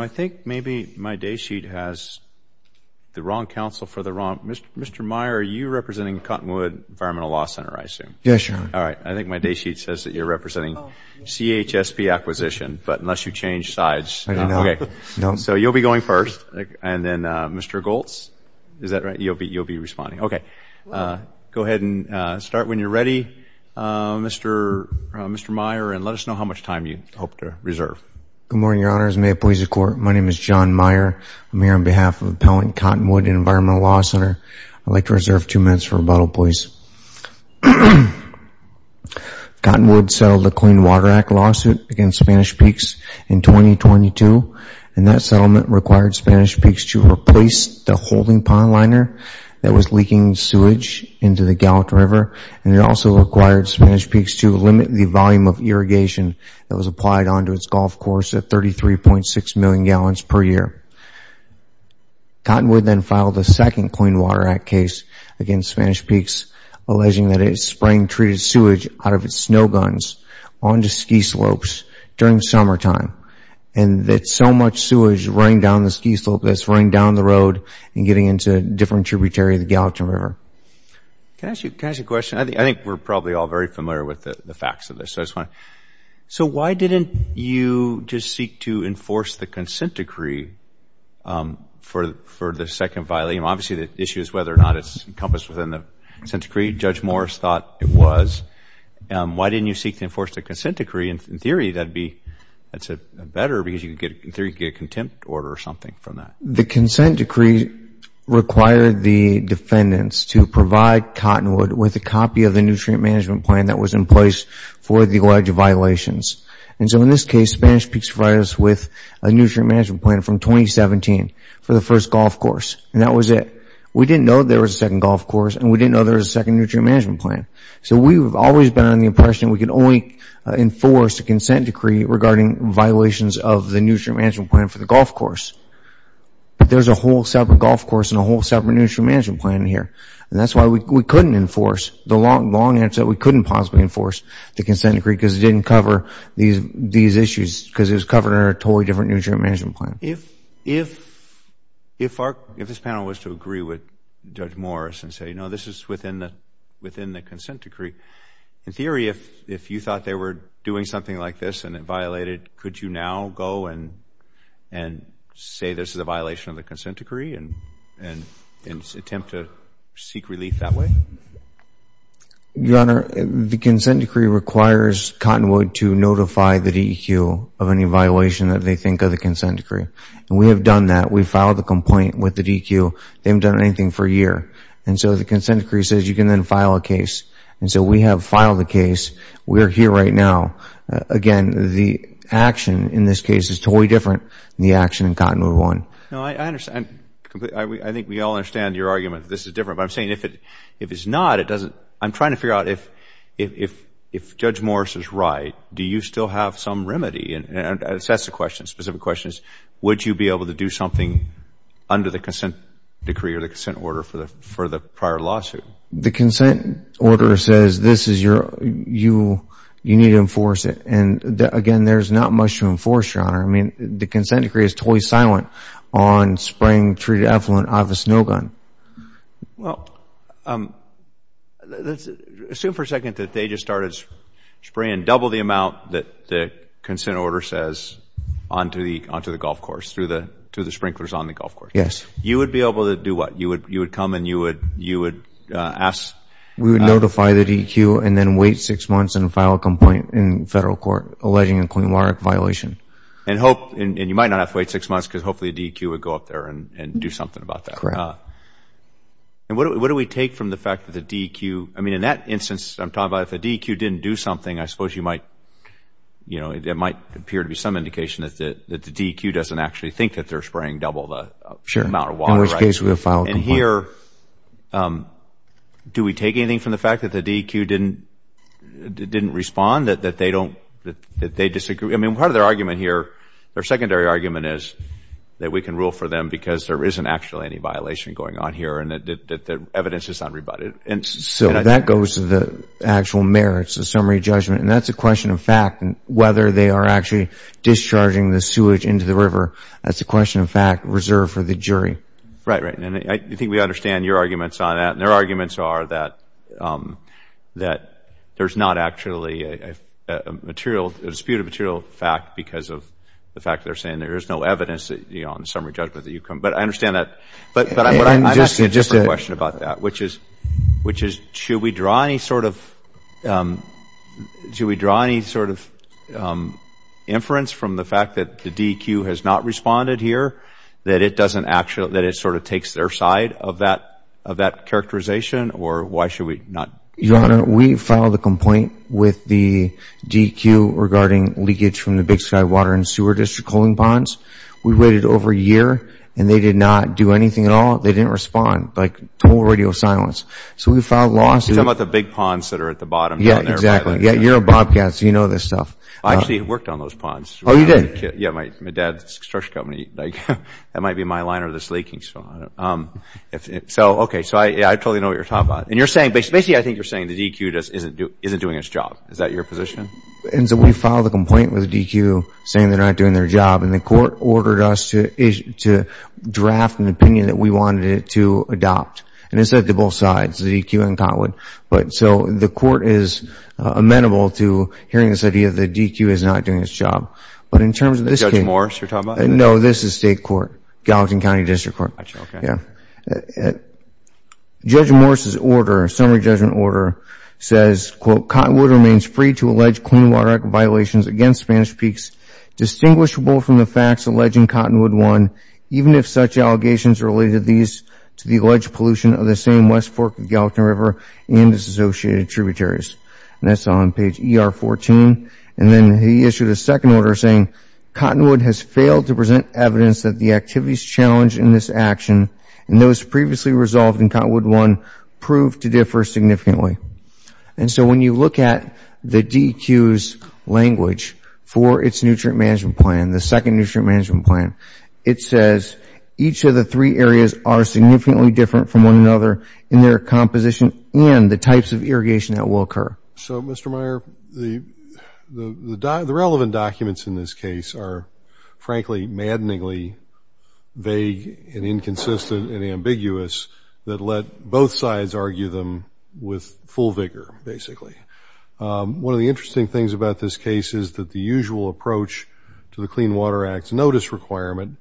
I think maybe my day sheet has the wrong counsel for the wrong... Mr. Meyer, are you representing Cottonwood Environmental Law Center, I assume? Yes, Your Honor. All right, I think my day sheet says that you're representing CH SP Acquisition, but unless you change sides... I do not. Okay, so you'll be going first, and then Mr. Goltz, is that right? You'll be responding. Okay, go ahead and start when you're ready, Mr. Meyer, and let us know how much time you hope to reserve. Good morning, Your Honors. May it please the Court, my name is John Meyer. I'm here on behalf of Appellant Cottonwood Environmental Law Center. I'd like to reserve two minutes for rebuttal, please. Cottonwood settled a Clean Water Act lawsuit against Spanish Peaks in 2022, and that settlement required Spanish Peaks to replace the holding pond liner that was leaking sewage into the Gallup River, and it also required Spanish Peaks to limit the volume of irrigation that was applied onto its golf course at 33.6 million gallons per year. Cottonwood then filed a second Clean Water Act case against Spanish Peaks, alleging that its spring treated sewage out of its snow guns onto ski slopes during summertime, and that so much sewage running down the ski slope that it's running down the road and getting into different tributaries of the Gallup River. Can I ask you a question? I think we're probably all very familiar with the facts of this. So why didn't you just seek to enforce the consent decree for the second volume? Obviously, the issue is whether or not it's encompassed within the consent decree. Judge Morris thought it was. Why didn't you seek to enforce the consent decree? In theory, that's better because you could get a contempt order or something from that. The consent decree required the defendants to provide Cottonwood with a copy of the nutrient management plan that was in place for the alleged violations. And so in this case, Spanish Peaks provided us with a nutrient management plan from 2017 for the first golf course, and that was it. We didn't know there was a second golf course, and we didn't know there was a second nutrient management plan. So we've always been on the impression we can only enforce a consent decree regarding violations of the nutrient management plan for the golf course. But there's a whole separate golf course and a whole separate nutrient management plan in here, and that's why we couldn't enforce the long answer that we couldn't possibly enforce the consent decree because it didn't cover these issues because it was covered under a totally different nutrient management plan. If this panel was to agree with Judge Morris and say, no, this is within the consent decree, in theory, if you thought they were doing something like this and it violated, could you now go and say this is a violation of the consent decree and attempt to seek relief that way? Your Honor, the consent decree requires Cottonwood to notify the DEQ of any violation that they think of the consent decree. And we have done that. We filed the complaint with the DEQ. They haven't done anything for a year. And so the consent decree says you can then file a case. And so we have filed a case. We are here right now. Again, the action in this case is totally different than the action in Cottonwood 1. No, I understand. I think we all understand your argument that this is different. But I'm saying if it's not, it doesn't – I'm trying to figure out if Judge Morris is right, do you still have some remedy? And that's the question, the specific question is, would you be able to do something under the consent decree or the consent order for the prior lawsuit? The consent order says this is your – you need to enforce it. And, again, there's not much to enforce, Your Honor. I mean, the consent decree is totally silent on spraying treated effluent out of a snow gun. Well, assume for a second that they just started spraying double the amount that the consent order says onto the golf course, to the sprinklers on the golf course. Yes. You would be able to do what? You would come and you would ask – We would notify the DEQ and then wait six months and file a complaint in federal court alleging a clean water violation. And hope – and you might not have to wait six months because hopefully the DEQ would go up there and do something about that. And what do we take from the fact that the DEQ – I mean, in that instance, I'm talking about if the DEQ didn't do something, I suppose you might – it might appear to be some indication that the DEQ doesn't actually think that they're spraying double the amount of water. In which case, we would file a complaint. And here, do we take anything from the fact that the DEQ didn't respond, that they don't – that they disagree? I mean, part of their argument here – their secondary argument is that we can rule for them because there isn't actually any violation going on here and that evidence is unrebutted. So that goes to the actual merits, the summary judgment, and that's a question of fact. Whether they are actually discharging the sewage into the river, that's a question of fact reserved for the jury. Right, right. And I think we understand your arguments on that. And their arguments are that there's not actually a material – a disputed material fact because of the fact that they're saying there is no evidence on the summary judgment that you come – but I understand that. But I'm asking just a question about that, which is should we draw any sort of – that it doesn't actually – that it sort of takes their side of that characterization or why should we not? Your Honor, we filed a complaint with the DEQ regarding leakage from the Big Sky Water and Sewer District cooling ponds. We waited over a year and they did not do anything at all. They didn't respond. Like, total radio silence. So we filed lawsuits. You're talking about the big ponds that are at the bottom down there. Yeah, exactly. Yeah, you're a bobcat, so you know this stuff. I actually worked on those ponds. Oh, you did? Yeah, my dad's construction company. Like, that might be my liner that's leaking. So, okay. So I totally know what you're talking about. And you're saying – basically, I think you're saying the DEQ just isn't doing its job. Is that your position? And so we filed a complaint with the DEQ saying they're not doing their job. And the court ordered us to draft an opinion that we wanted it to adopt. And it said to both sides, the DEQ and Cotwood. So the court is amenable to hearing this idea that the DEQ is not doing its job. But in terms of this case – Judge Morris, you're talking about? No, this is state court, Gallatin County District Court. Okay. Judge Morris's order, summary judgment order, says, Quote, Cotwood remains free to allege clean water violations against Spanish Peaks, distinguishable from the facts alleging Cottonwood won, even if such allegations are related to the alleged pollution of the same West Fork of the Gallatin River and its associated tributaries. And that's on page ER14. And then he issued a second order saying, Cottonwood has failed to present evidence that the activities challenged in this action and those previously resolved in Cottonwood won prove to differ significantly. And so when you look at the DEQ's language for its nutrient management plan, the second nutrient management plan, it says each of the three areas are significantly different from one another in their composition and the types of irrigation that will occur. So, Mr. Meyer, the relevant documents in this case are frankly maddeningly vague and inconsistent and ambiguous that let both sides argue them with full vigor, basically. One of the interesting things about this case is that the usual approach to the Clean Water Act's notice requirement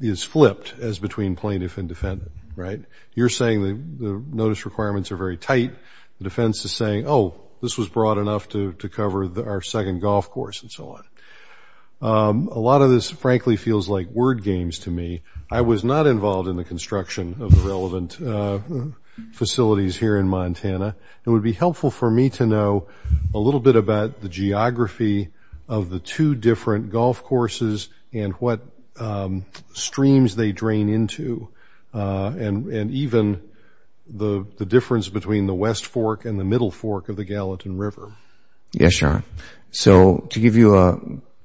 is flipped as between plaintiff and defendant, right? You're saying the notice requirements are very tight. The defense is saying, oh, this was broad enough to cover our second golf course and so on. A lot of this frankly feels like word games to me. I was not involved in the construction of the relevant facilities here in Montana. It would be helpful for me to know a little bit about the geography of the two different golf courses and what streams they drain into and even the difference between the west fork and the middle fork of the Gallatin River. Yes, Your Honor. So to give you a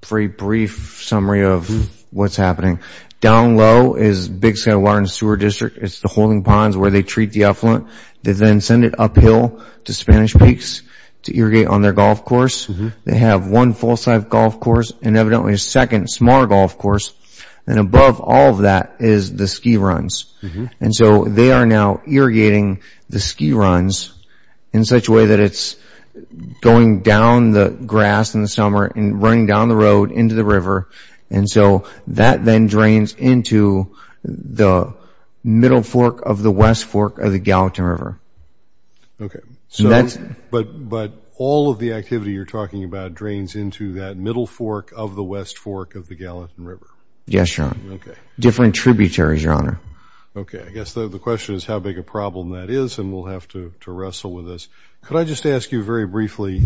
very brief summary of what's happening, down low is Big Sky Water and Sewer District. It's the holding ponds where they treat the effluent. They then send it uphill to Spanish Peaks to irrigate on their golf course. They have one full-size golf course and evidently a second small golf course. And above all of that is the ski runs. And so they are now irrigating the ski runs in such a way that it's going down the grass in the summer and running down the road into the river. And so that then drains into the middle fork of the west fork of the Gallatin River. Okay. But all of the activity you're talking about drains into that middle fork of the west fork of the Gallatin River. Yes, Your Honor. Different tributaries, Your Honor. Okay. I guess the question is how big a problem that is, and we'll have to wrestle with this. Could I just ask you very briefly,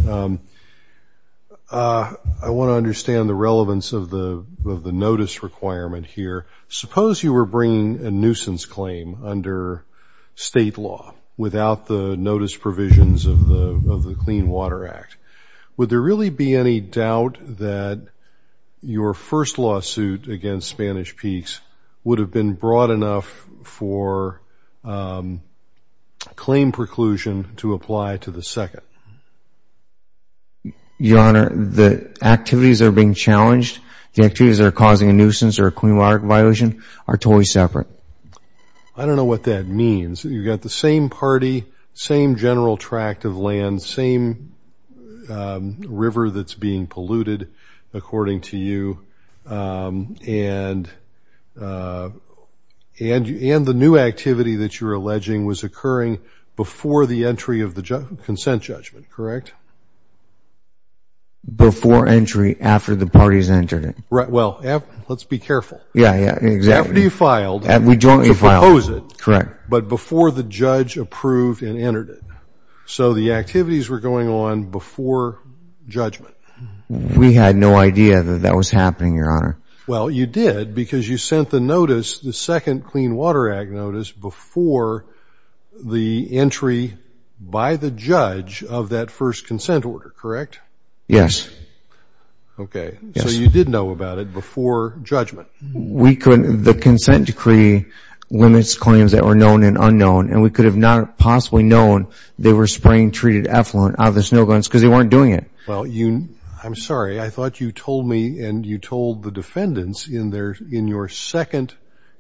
I want to understand the relevance of the notice requirement here. Suppose you were bringing a nuisance claim under state law without the notice provisions of the Clean Water Act. Would there really be any doubt that your first lawsuit against Spanish Peaks would have been broad enough for claim preclusion to apply to the second? Your Honor, the activities that are being challenged, the activities that are causing a nuisance or a Clean Water Act violation are totally separate. I don't know what that means. You've got the same party, same general tract of land, same river that's being polluted, according to you, and the new activity that you're alleging was occurring before the entry of the consent judgment, correct? Before entry, after the parties entered it. Right. Well, let's be careful. Yeah. Exactly. After you filed to propose it. Correct. But before the judge approved and entered it. So the activities were going on before judgment. We had no idea that that was happening, Your Honor. Well, you did because you sent the notice, the second Clean Water Act notice, before the entry by the judge of that first consent order, correct? Yes. Okay. So you did know about it before judgment. The consent decree limits claims that were known and unknown, and we could have not possibly known they were spraying treated effluent out of the snow glen because they weren't doing it. I'm sorry. I thought you told me and you told the defendants in your second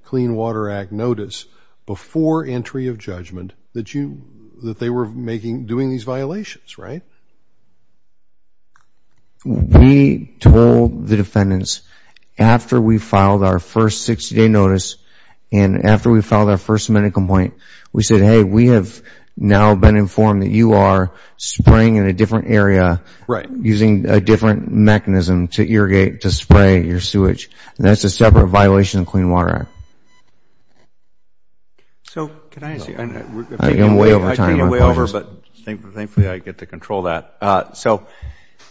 Clean Water Act notice before entry of judgment that they were doing these violations, right? We told the defendants after we filed our first 60-day notice and after we filed our first amendment complaint, we said, Right. Using a different mechanism to irrigate, to spray your sewage, and that's a separate violation of the Clean Water Act. So can I ask you? I've taken you way over time. I've taken you way over, but thankfully I get to control that. So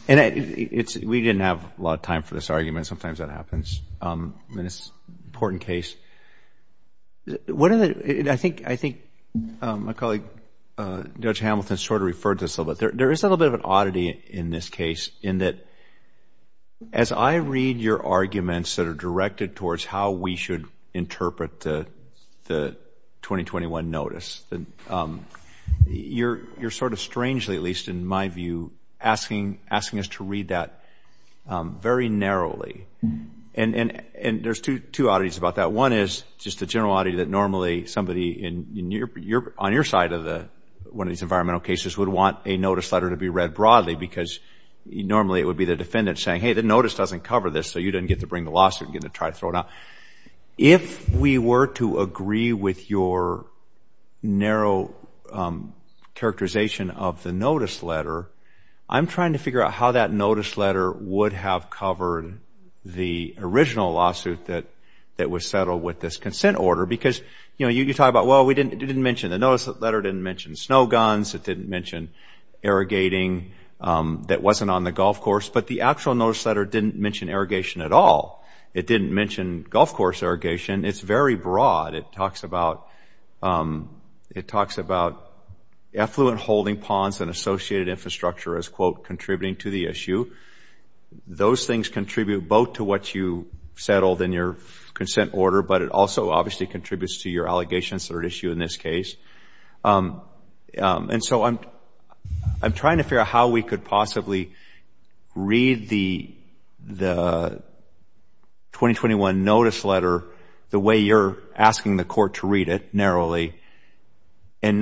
we didn't have a lot of time for this argument. Sometimes that happens in this important case. I think my colleague Judge Hamilton sort of referred to this a little bit. There is a little bit of an oddity in this case in that as I read your arguments that are directed towards how we should interpret the 2021 notice, you're sort of strangely, at least in my view, asking us to read that very narrowly. And there's two oddities about that. One is just the general oddity that normally somebody on your side of one of these environmental cases would want a notice letter to be read broadly because normally it would be the defendant saying, Hey, the notice doesn't cover this, so you didn't get to bring the lawsuit and get to try to throw it out. If we were to agree with your narrow characterization of the notice letter, I'm trying to figure out how that notice letter would have covered the original lawsuit that was settled with this consent order. Because you talk about, well, the notice letter didn't mention snow guns, it didn't mention irrigating that wasn't on the golf course, but the actual notice letter didn't mention irrigation at all. It didn't mention golf course irrigation. It's very broad. It talks about effluent holding ponds and associated infrastructure as, quote, contributing to the issue. Those things contribute both to what you settled in your consent order, but it also obviously contributes to your allegations that are at issue in this case. And so I'm trying to figure out how we could possibly read the 2021 notice letter the way you're asking the court to read it narrowly and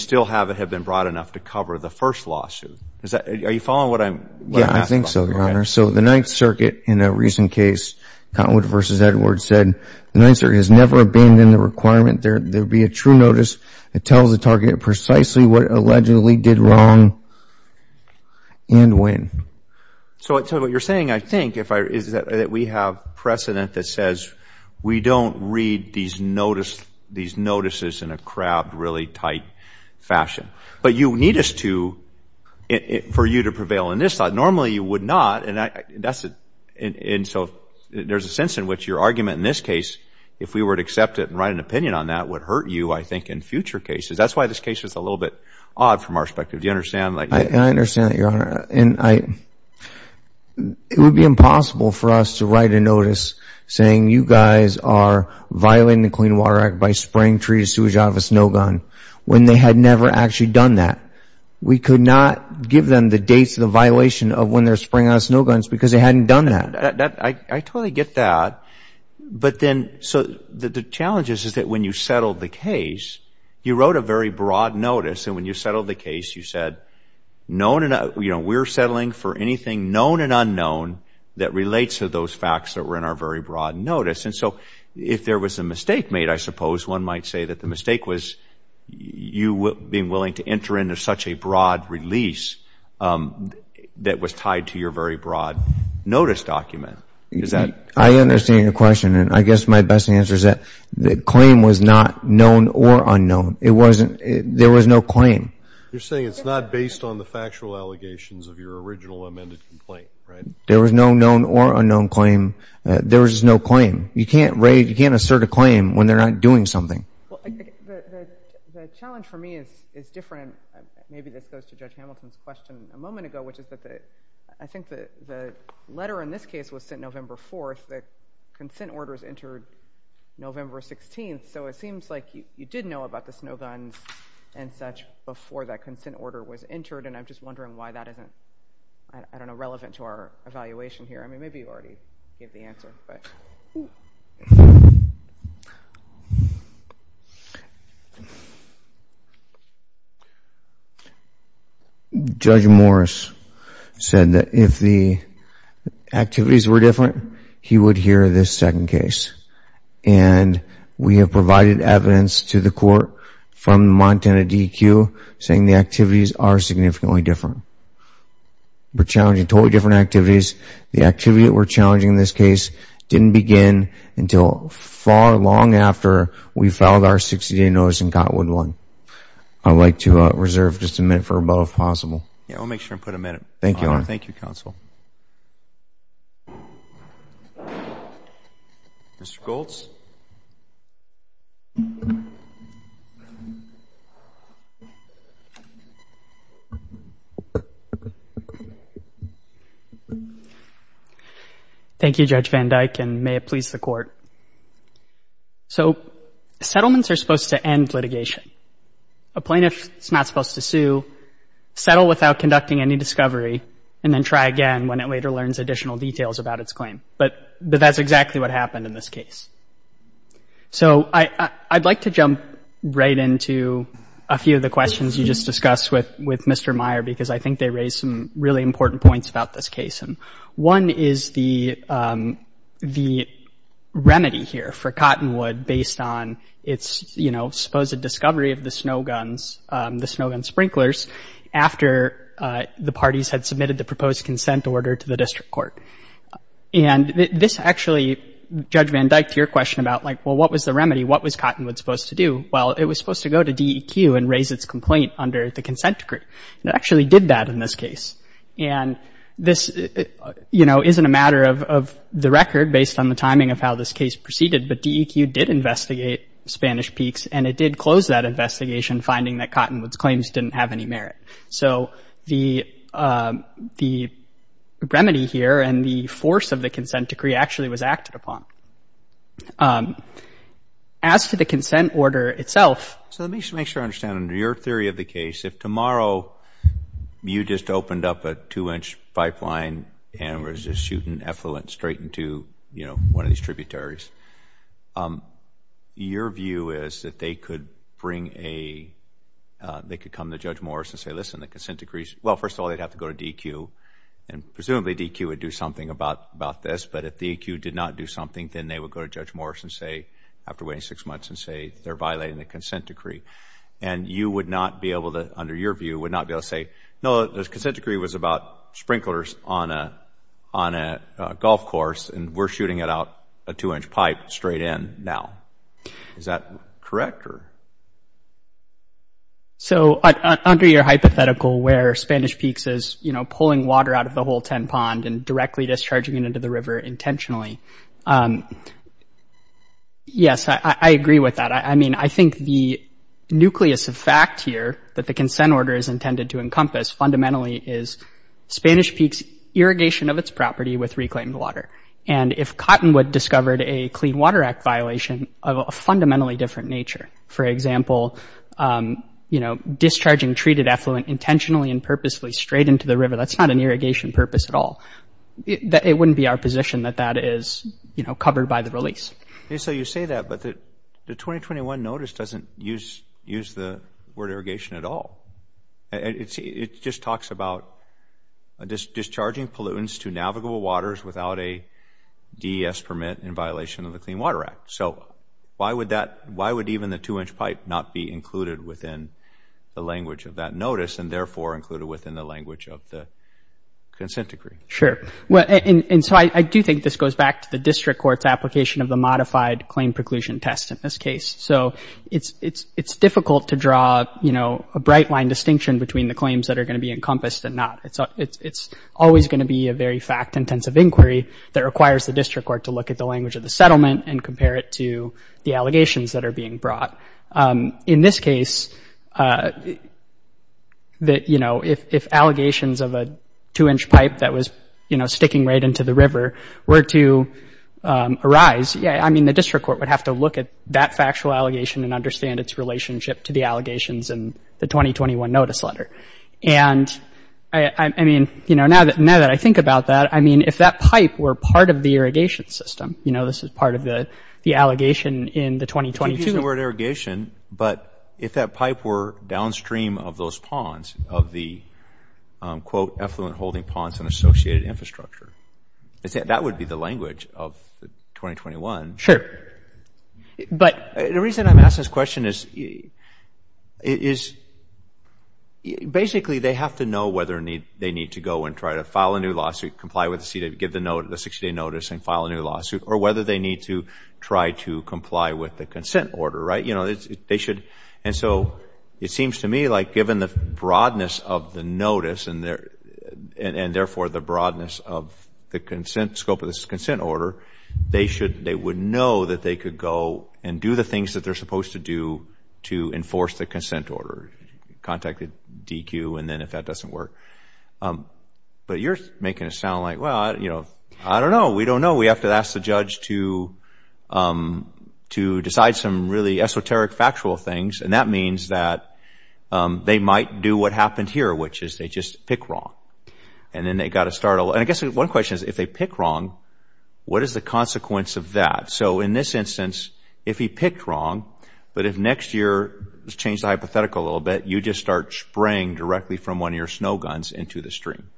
still have it have been broad enough to cover the first lawsuit. Are you following what I'm asking? Yeah, I think so, Your Honor. So the Ninth Circuit in a recent case, Cottonwood v. Edwards, said, the Ninth Circuit has never abandoned the requirement there be a true notice that tells the target precisely what allegedly did wrong and when. So what you're saying, I think, is that we have precedent that says we don't read these notices in a crabbed, really tight fashion. But you need us to for you to prevail in this thought. Normally you would not, and so there's a sense in which your argument in this case, if we were to accept it and write an opinion on that, would hurt you, I think, in future cases. That's why this case was a little bit odd from our perspective. Do you understand? I understand that, Your Honor. It would be impossible for us to write a notice saying you guys are violating the Clean Water Act by spraying treated sewage out of a snowgun when they had never actually done that. We could not give them the dates of the violation of when they're spraying out of snowguns because they hadn't done that. I totally get that. But then, so the challenge is that when you settled the case, you wrote a very broad notice, and when you settled the case you said, we're settling for anything known and unknown that relates to those facts that were in our very broad notice. And so if there was a mistake made, I suppose, one might say that the mistake was you being willing to enter into such a broad release that was tied to your very broad notice document. I understand your question, and I guess my best answer is that the claim was not known or unknown. There was no claim. You're saying it's not based on the factual allegations of your original amended complaint, right? There was no known or unknown claim. There was no claim. You can't assert a claim when they're not doing something. The challenge for me is different. Maybe this goes to Judge Hamilton's question a moment ago, which is that I think the letter in this case was sent November 4th. The consent order is entered November 16th. So it seems like you did know about the snowguns and such before that consent order was entered, and I'm just wondering why that isn't, I don't know, relevant to our evaluation here. I mean, maybe you already gave the answer. Judge Morris said that if the activities were different, he would hear this second case. And we have provided evidence to the court from the Montana DEQ saying the activities are significantly different. We're challenging totally different activities. The activity that we're challenging in this case didn't begin until far long after we filed our 60-day notice in Cotwood 1. I'd like to reserve just a minute for a vote, if possible. Yeah, we'll make sure and put a minute. Thank you, Your Honor. Thank you, Counsel. Mr. Goltz. Thank you, Judge Van Dyke, and may it please the Court. So settlements are supposed to end litigation. A plaintiff is not supposed to sue, settle without conducting any discovery, and then try again when it later learns additional details about its claim. But that's exactly what happened in this case. So I'd like to jump right into a few of the questions you just discussed with Mr. Meyer, because I think they raise some really important points about this case. One is the remedy here for Cottonwood based on its, you know, supposed discovery of the snow guns, the snow gun sprinklers, after the parties had submitted the proposed consent order to the district court. And this actually, Judge Van Dyke, to your question about, like, well, what was the remedy? What was Cottonwood supposed to do? Well, it was supposed to go to DEQ and raise its complaint under the consent decree. It actually did that in this case. And this, you know, isn't a matter of the record based on the timing of how this case proceeded, but DEQ did investigate Spanish Peaks, and it did close that investigation, finding that Cottonwood's claims didn't have any merit. So the remedy here and the force of the consent decree actually was acted upon. As to the consent order itself. So let me just make sure I understand. Under your theory of the case, if tomorrow you just opened up a two-inch pipeline and was just shooting effluent straight into, you know, one of these tributaries, your view is that they could bring a, they could come to Judge Morris and say, listen, the consent decree's, well, first of all, they'd have to go to DEQ, and presumably DEQ would do something about this. But if DEQ did not do something, then they would go to Judge Morris and say, after waiting six months, and say they're violating the consent decree. And you would not be able to, under your view, would not be able to say, no, the consent decree was about sprinklers on a golf course, and we're shooting it out a two-inch pipe straight in now. Is that correct? So under your hypothetical where Spanish Peaks is, you know, pulling water out of the whole 10 pond and directly discharging it into the river intentionally, yes, I agree with that. I mean, I think the nucleus of fact here that the consent order is intended to encompass fundamentally is Spanish Peaks' irrigation of its property with reclaimed water. And if Cottonwood discovered a Clean Water Act violation of a fundamentally different nature, for example, you know, discharging treated effluent intentionally and purposely straight into the river, that's not an irrigation purpose at all. It wouldn't be our position that that is, you know, covered by the release. So you say that, but the 2021 notice doesn't use the word irrigation at all. It just talks about discharging pollutants to navigable waters without a DES permit in violation of the Clean Water Act. So why would that, why would even the two-inch pipe not be included within the language of that notice and therefore included within the language of the consent decree? Sure. Well, and so I do think this goes back to the district court's application of the modified claim preclusion test in this case. So it's difficult to draw, you know, a bright line distinction between the claims that are going to be encompassed and not. It's always going to be a very fact-intensive inquiry that requires the district court to look at the language of the settlement and compare it to the allegations that are being brought. In this case, that, you know, if allegations of a two-inch pipe that was, you know, sticking right into the river were to arise, yeah, I mean, the district court would have to look at that factual allegation and understand its relationship to the allegations in the 2021 notice letter. And I mean, you know, now that I think about that, I mean, if that pipe were part of the irrigation system, you know, this is part of the allegation in the 2022. I'm not using the word irrigation, but if that pipe were downstream of those ponds, of the, quote, effluent holding ponds and associated infrastructure, that would be the language of 2021. Sure. But. The reason I'm asking this question is basically they have to know whether they need to go and try to file a new lawsuit, comply with the 60-day notice and file a new lawsuit, or whether they need to try to comply with the consent order, right? You know, they should. And so it seems to me like given the broadness of the notice and therefore the broadness of the consent, scope of this consent order, they would know that they could go and do the things that they're supposed to do to enforce the consent order, contact the DQ, and then if that doesn't work. But you're making it sound like, well, you know, I don't know. We don't know. We have to ask the judge to decide some really esoteric factual things, and that means that they might do what happened here, which is they just pick wrong. And then they've got to start. And I guess one question is if they pick wrong, what is the consequence of that? So in this instance, if he picked wrong, but if next year, let's change the hypothetical a little bit, you just start spraying directly from one of your snow guns into the stream.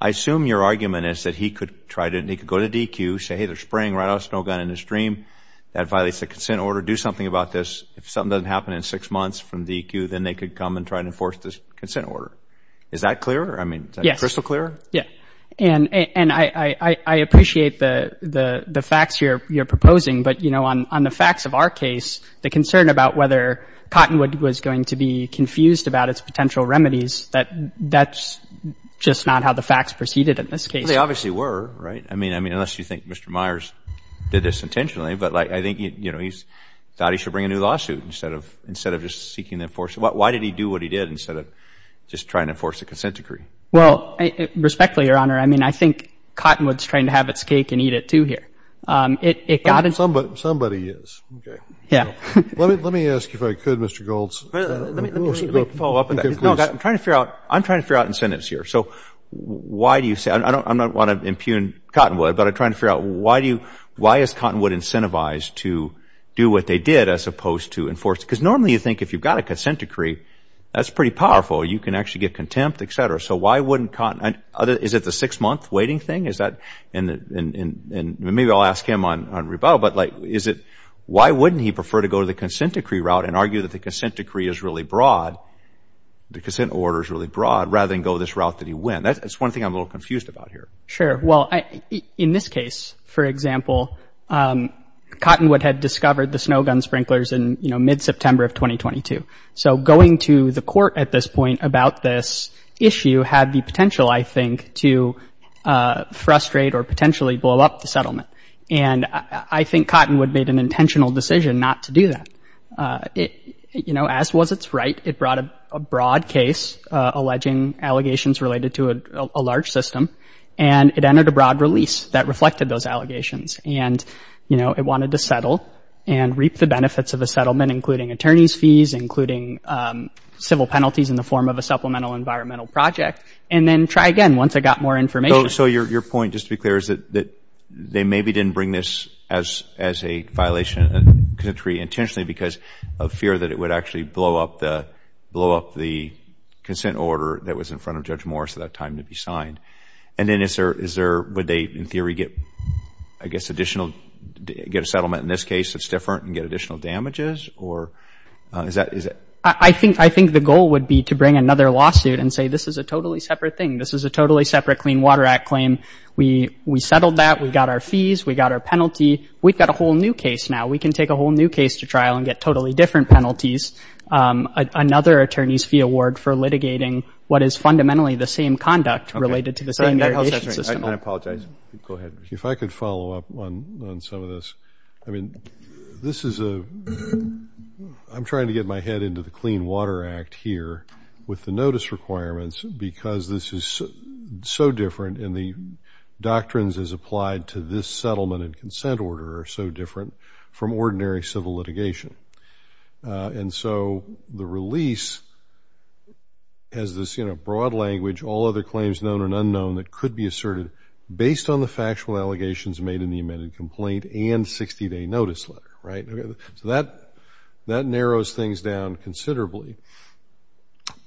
I assume your argument is that he could try to go to DQ, say, hey, they're spraying right off the snow gun into the stream. That violates the consent order. Do something about this. If something doesn't happen in six months from DQ, then they could come and try to enforce this consent order. Is that clear? I mean, is that crystal clear? Yeah. And I appreciate the facts you're proposing. But, you know, on the facts of our case, the concern about whether Cottonwood was going to be confused about its potential remedies, that's just not how the facts proceeded in this case. Well, they obviously were, right? I mean, unless you think Mr. Myers did this intentionally. But I think, you know, he thought he should bring a new lawsuit instead of just seeking to enforce it. Why did he do what he did instead of just trying to enforce the consent decree? Well, respectfully, Your Honor, I mean, I think Cottonwood is trying to have its cake and eat it, too, here. Somebody is. Okay. Yeah. Let me ask if I could, Mr. Goulds. Let me follow up on that. No, I'm trying to figure out incentives here. So why do you say, I don't want to impugn Cottonwood, but I'm trying to figure out why is Cottonwood incentivized to do what they did as opposed to enforce it? Because normally you think if you've got a consent decree, that's pretty powerful. You can actually get contempt, et cetera. So why wouldn't Cottonwood, is it the six-month waiting thing? Is that, and maybe I'll ask him on rebuttal, but, like, is it, why wouldn't he prefer to go the consent decree route and argue that the consent decree is really broad, the consent order is really broad, rather than go this route that he went? That's one thing I'm a little confused about here. Sure. Well, in this case, for example, Cottonwood had discovered the snow gun sprinklers in, you know, mid-September of 2022. So going to the court at this point about this issue had the potential, I think, to frustrate or potentially blow up the settlement. And I think Cottonwood made an intentional decision not to do that. You know, as was its right, it brought a broad case alleging allegations related to a large system, and it entered a broad release that reflected those allegations. And, you know, it wanted to settle and reap the benefits of a settlement, including attorney's fees, including civil penalties in the form of a supplemental environmental project, and then try again once it got more information. So your point, just to be clear, is that they maybe didn't bring this as a violation of the consent decree intentionally because of fear that it would actually blow up the consent order that was in front of Judge Morris at that time to be signed. And then is there – would they, in theory, get, I guess, additional – get a settlement in this case that's different and get additional damages, or is that – I think the goal would be to bring another lawsuit and say this is a totally separate thing, this is a totally separate Clean Water Act claim. We settled that. We got our fees. We got our penalty. We've got a whole new case now. We can take a whole new case to trial and get totally different penalties, another attorney's fee award for litigating what is fundamentally the same conduct related to the same irrigation system. I apologize. Go ahead. If I could follow up on some of this. I mean, this is a – I'm trying to get my head into the Clean Water Act here with the notice requirements because this is so different and the doctrines as applied to this settlement and consent order are so different from ordinary civil litigation. And so the release has this, you know, broad language, all other claims known and unknown that could be asserted based on the factual allegations made in the amended complaint and 60-day notice letter, right? So that narrows things down considerably.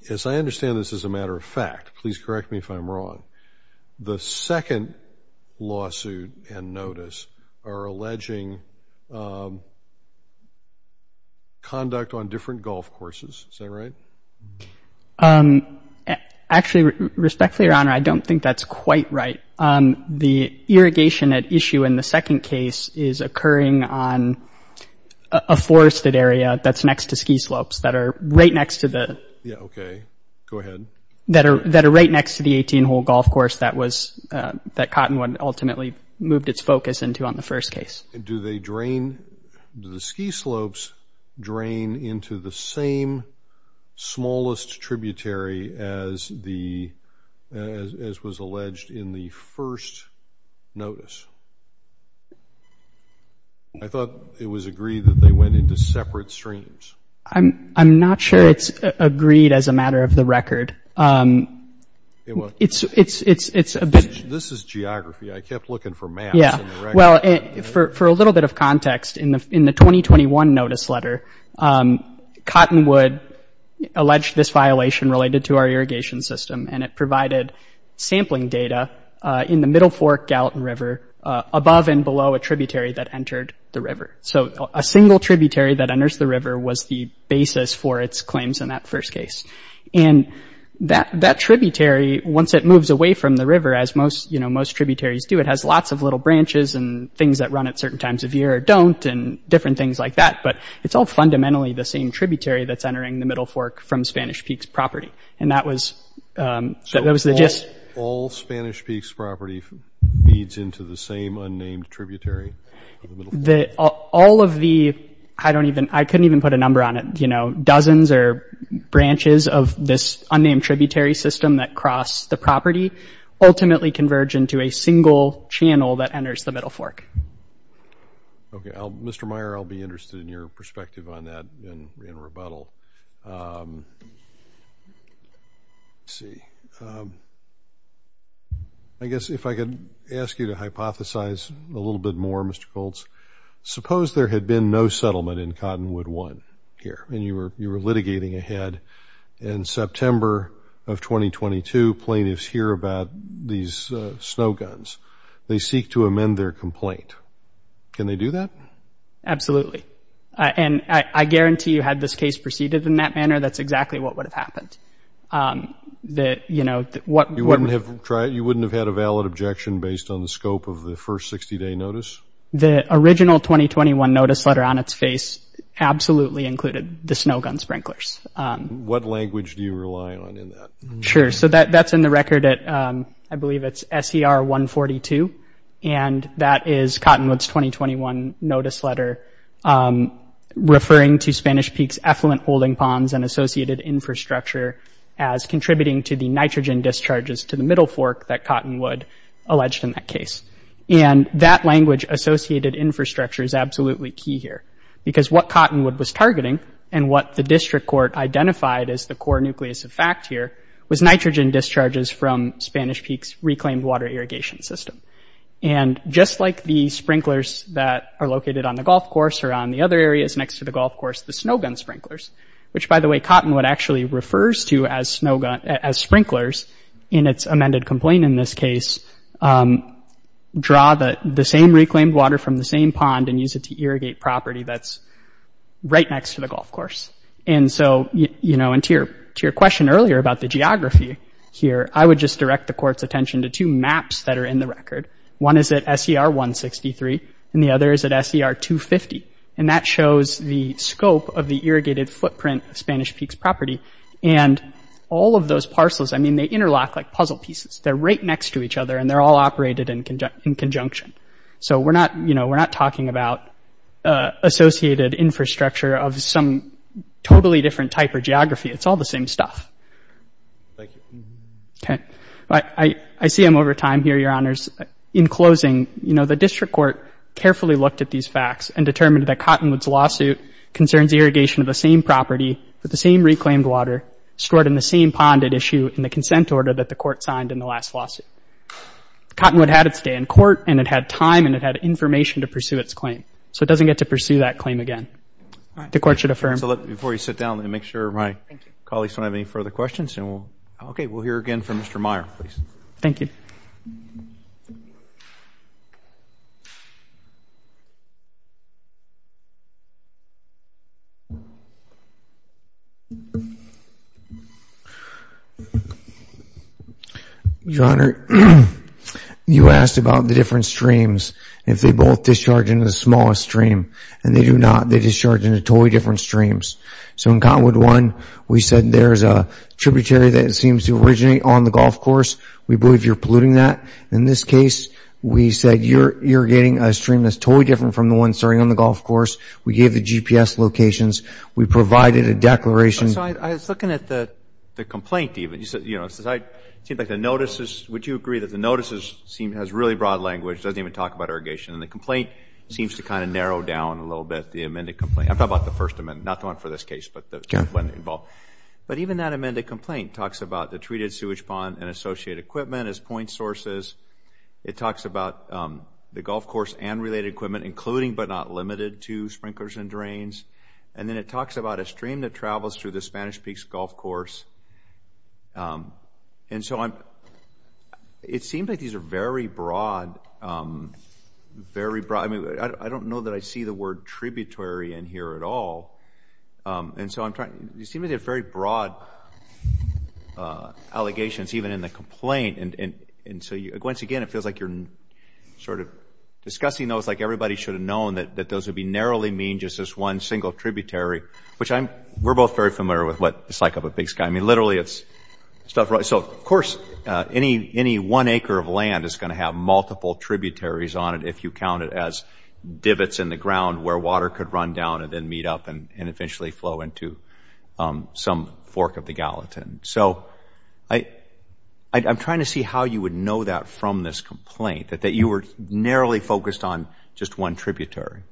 Yes, I understand this is a matter of fact. Please correct me if I'm wrong. The second lawsuit and notice are alleging conduct on different golf courses. Is that right? Actually, respectfully, Your Honor, I don't think that's quite right. The irrigation at issue in the second case is occurring on a forested area that's next to ski slopes that are right next to the – Yeah, okay. Go ahead. That are right next to the 18-hole golf course that was – that Cottonwood ultimately moved its focus into on the first case. Do they drain – do the ski slopes drain into the same smallest tributary as the – as was alleged in the first notice? I thought it was agreed that they went into separate streams. I'm not sure it's agreed as a matter of the record. It was. It's a bit – This is geography. I kept looking for maps in the record. Yeah. Well, for a little bit of context, in the 2021 notice letter, Cottonwood alleged this violation related to our irrigation system, and it provided sampling data in the Middle Fork Gallatin River above and below a tributary that entered the river. So a single tributary that enters the river was the basis for its claims in that first case. And that tributary, once it moves away from the river, as most tributaries do, it has lots of little branches and things that run at certain times of year or don't and different things like that, but it's all fundamentally the same tributary that's entering the Middle Fork from Spanish Peaks property, and that was – that was the – So all Spanish Peaks property feeds into the same unnamed tributary? All of the – I don't even – I couldn't even put a number on it. You know, dozens or branches of this unnamed tributary system that cross the property ultimately converge into a single channel that enters the Middle Fork. Okay. Mr. Meyer, I'll be interested in your perspective on that in rebuttal. Let's see. I guess if I could ask you to hypothesize a little bit more, Mr. Colts. Suppose there had been no settlement in Cottonwood 1 here, and you were litigating ahead. In September of 2022, plaintiffs hear about these snow guns. They seek to amend their complaint. Can they do that? And I guarantee you had this case proceeded in that manner, that's exactly what would have happened. You know, what – You wouldn't have tried – you wouldn't have had a valid objection based on the scope of the first 60-day notice? The original 2021 notice letter on its face absolutely included the snow gun sprinklers. What language do you rely on in that? Sure. So that's in the record at – I believe it's SER 142. And that is Cottonwood's 2021 notice letter referring to Spanish Peaks effluent holding ponds and associated infrastructure as contributing to the nitrogen discharges to the Middle Fork that Cottonwood alleged in that case. And that language, associated infrastructure, is absolutely key here. Because what Cottonwood was targeting, and what the district court identified as the core nucleus of fact here, was nitrogen discharges from Spanish Peaks reclaimed water irrigation system. And just like the sprinklers that are located on the golf course or on the other areas next to the golf course, the snow gun sprinklers – which, by the way, Cottonwood actually refers to as sprinklers in its amended complaint in this case – draw the same reclaimed water from the same pond and use it to irrigate property that's right next to the golf course. And so, you know, and to your question earlier about the geography here, I would just direct the court's attention to two maps that are in the record. One is at SER 163, and the other is at SER 250. And that shows the scope of the irrigated footprint of Spanish Peaks property. And all of those parcels – I mean, they interlock like puzzle pieces. They're right next to each other, and they're all operated in conjunction. So we're not – you know, we're not talking about associated infrastructure of some totally different type of geography. It's all the same stuff. Okay. I see I'm over time here, Your Honors. In closing, you know, the district court carefully looked at these facts and determined that Cottonwood's lawsuit concerns irrigation of the same property with the same reclaimed water stored in the same pond at issue in the consent order that the court signed in the last lawsuit. Cottonwood had its day in court, and it had time, and it had information to pursue its claim. So it doesn't get to pursue that claim again. The court should affirm. Before you sit down, let me make sure my colleagues don't have any further questions. Okay. We'll hear again from Mr. Meyer, please. Thank you. Your Honor, you asked about the different streams. If they both discharge into the smallest stream and they do not, they discharge into totally different streams. So in Cottonwood 1, we said there's a tributary that seems to originate on the golf course. We believe you're polluting that. In this case, we said you're irrigating a stream that's totally different from the one starting on the golf course. We gave the GPS locations. We provided a declaration. I was looking at the complaint, even. You know, it seems like the notices – would you agree that the notices has really broad language, doesn't even talk about irrigation, and the complaint seems to kind of narrow down a little bit, the amended complaint. I'm talking about the first amendment, not the one for this case, but the one involved. But even that amended complaint talks about the treated sewage pond and associated equipment as point sources. It talks about the golf course and related equipment, including but not limited to sprinklers and drains. And then it talks about a stream that travels through the Spanish Peaks golf course. And so it seems like these are very broad. I mean, I don't know that I see the word tributary in here at all. And so it seems like they're very broad allegations, even in the complaint. And so, once again, it feels like you're sort of discussing those like everybody should have known that those would be narrowly mean just as one single tributary, which we're both very familiar with what it's like up at Big Sky. I mean, literally, it's stuff right. So, of course, any one acre of land is going to have multiple tributaries on it if you count it as divots in the ground where water could run down and then meet up and eventually flow into some fork of the Gallatin. So I'm trying to see how you would know that from this complaint, that you were narrowly focused on just one tributary.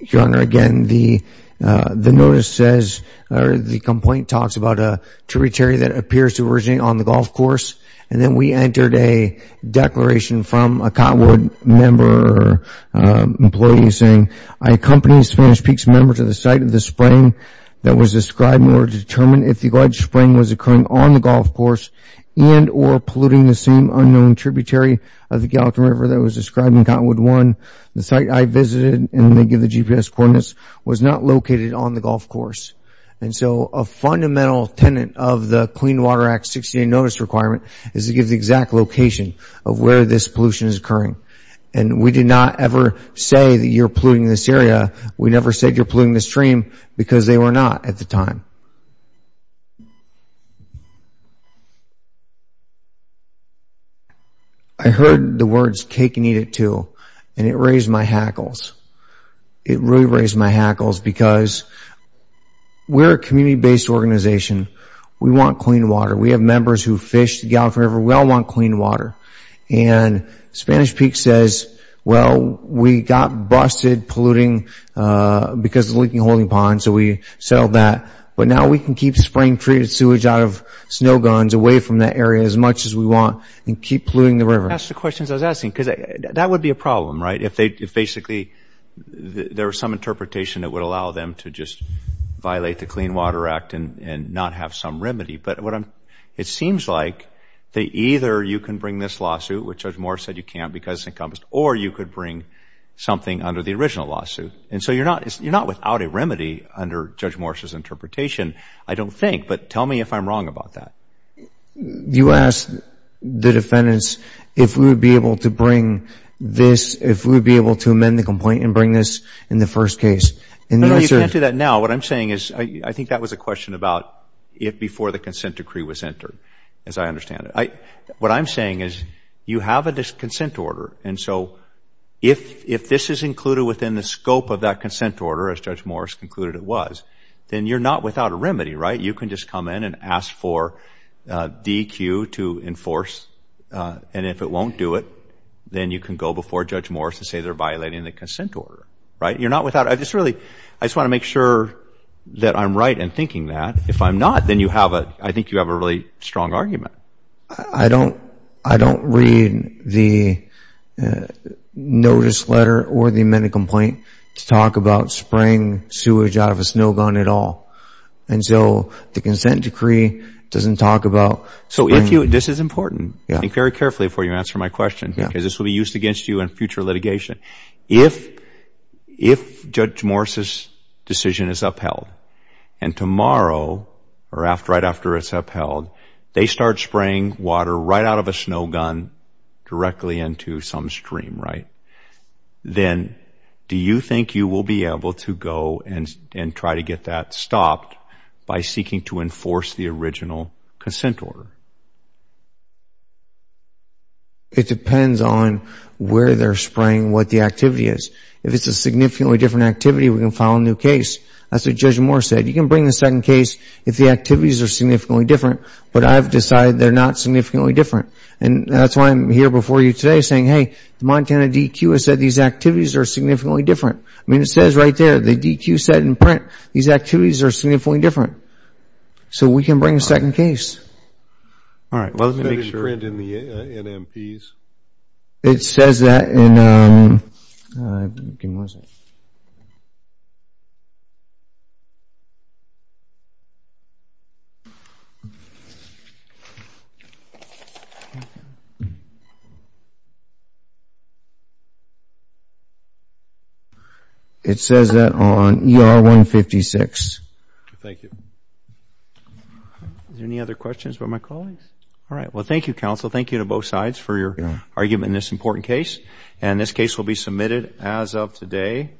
Your Honor, again, the notice says or the complaint talks about a tributary that appears to originate on the golf course. And then we entered a declaration from a Cottonwood member or employee saying, I accompany a Spanish Peaks member to the site of the spring that was described in order to determine if the alleged spring was occurring on the golf course and or polluting the same unknown tributary of the Gallatin River that was described in Cottonwood 1. The site I visited in the GPS coordinates was not located on the golf course. And so a fundamental tenant of the Clean Water Act 60-day notice requirement is to give the exact location of where this pollution is occurring. And we did not ever say that you're polluting this area. We never said you're polluting the stream because they were not at the time. Your Honor, I heard the words cake and eat it too. And it raised my hackles. It really raised my hackles because we're a community-based organization. We want clean water. We have members who fish the Gallatin River. We all want clean water. And Spanish Peaks says, well, we got busted polluting because of the leaking holding ponds, so we settled that. But now we can keep spring-treated sewage out of snow guns away from that area as much as we want and keep polluting the river. Ask the questions I was asking because that would be a problem, right, if basically there was some interpretation that would allow them to just violate the Clean Water Act and not have some remedy. But it seems like that either you can bring this lawsuit, which Judge Moore said you can't because it's encompassed, or you could bring something under the original lawsuit. And so you're not without a remedy under Judge Moore's interpretation, I don't think. But tell me if I'm wrong about that. You asked the defendants if we would be able to bring this, if we would be able to amend the complaint and bring this in the first case. No, you can't do that now. What I'm saying is I think that was a question about if before the consent decree was entered, as I understand it. What I'm saying is you have a consent order, and so if this is included within the scope of that consent order, as Judge Moore has concluded it was, then you're not without a remedy, right? You can just come in and ask for DEQ to enforce, and if it won't do it, then you can go before Judge Moore and say they're violating the consent order, right? You're not without a remedy. I just want to make sure that I'm right in thinking that. If I'm not, then I think you have a really strong argument. I don't read the notice letter or the amended complaint to talk about spraying sewage out of a snow gun at all, and so the consent decree doesn't talk about spraying. This is important. I think very carefully before you answer my question because this will be used against you in future litigation. If Judge Moore's decision is upheld, and tomorrow or right after it's upheld, they start spraying water right out of a snow gun directly into some stream, right, then do you think you will be able to go and try to get that stopped by seeking to enforce the original consent order? It depends on where they're spraying, what the activity is. If it's a significantly different activity, we can file a new case. As Judge Moore said, you can bring a second case. If the activities are significantly different, but I've decided they're not significantly different, and that's why I'm here before you today saying, hey, the Montana DQ has said these activities are significantly different. I mean, it says right there, the DQ said in print, these activities are significantly different. So we can bring a second case. All right. Well, let me make sure. Is that in print in the NMPs? It says that in ER 156. Thank you. Are there any other questions for my colleagues? All right. Well, thank you, counsel. Thank you to both sides for your argument in this important case. And this case will be submitted as of today.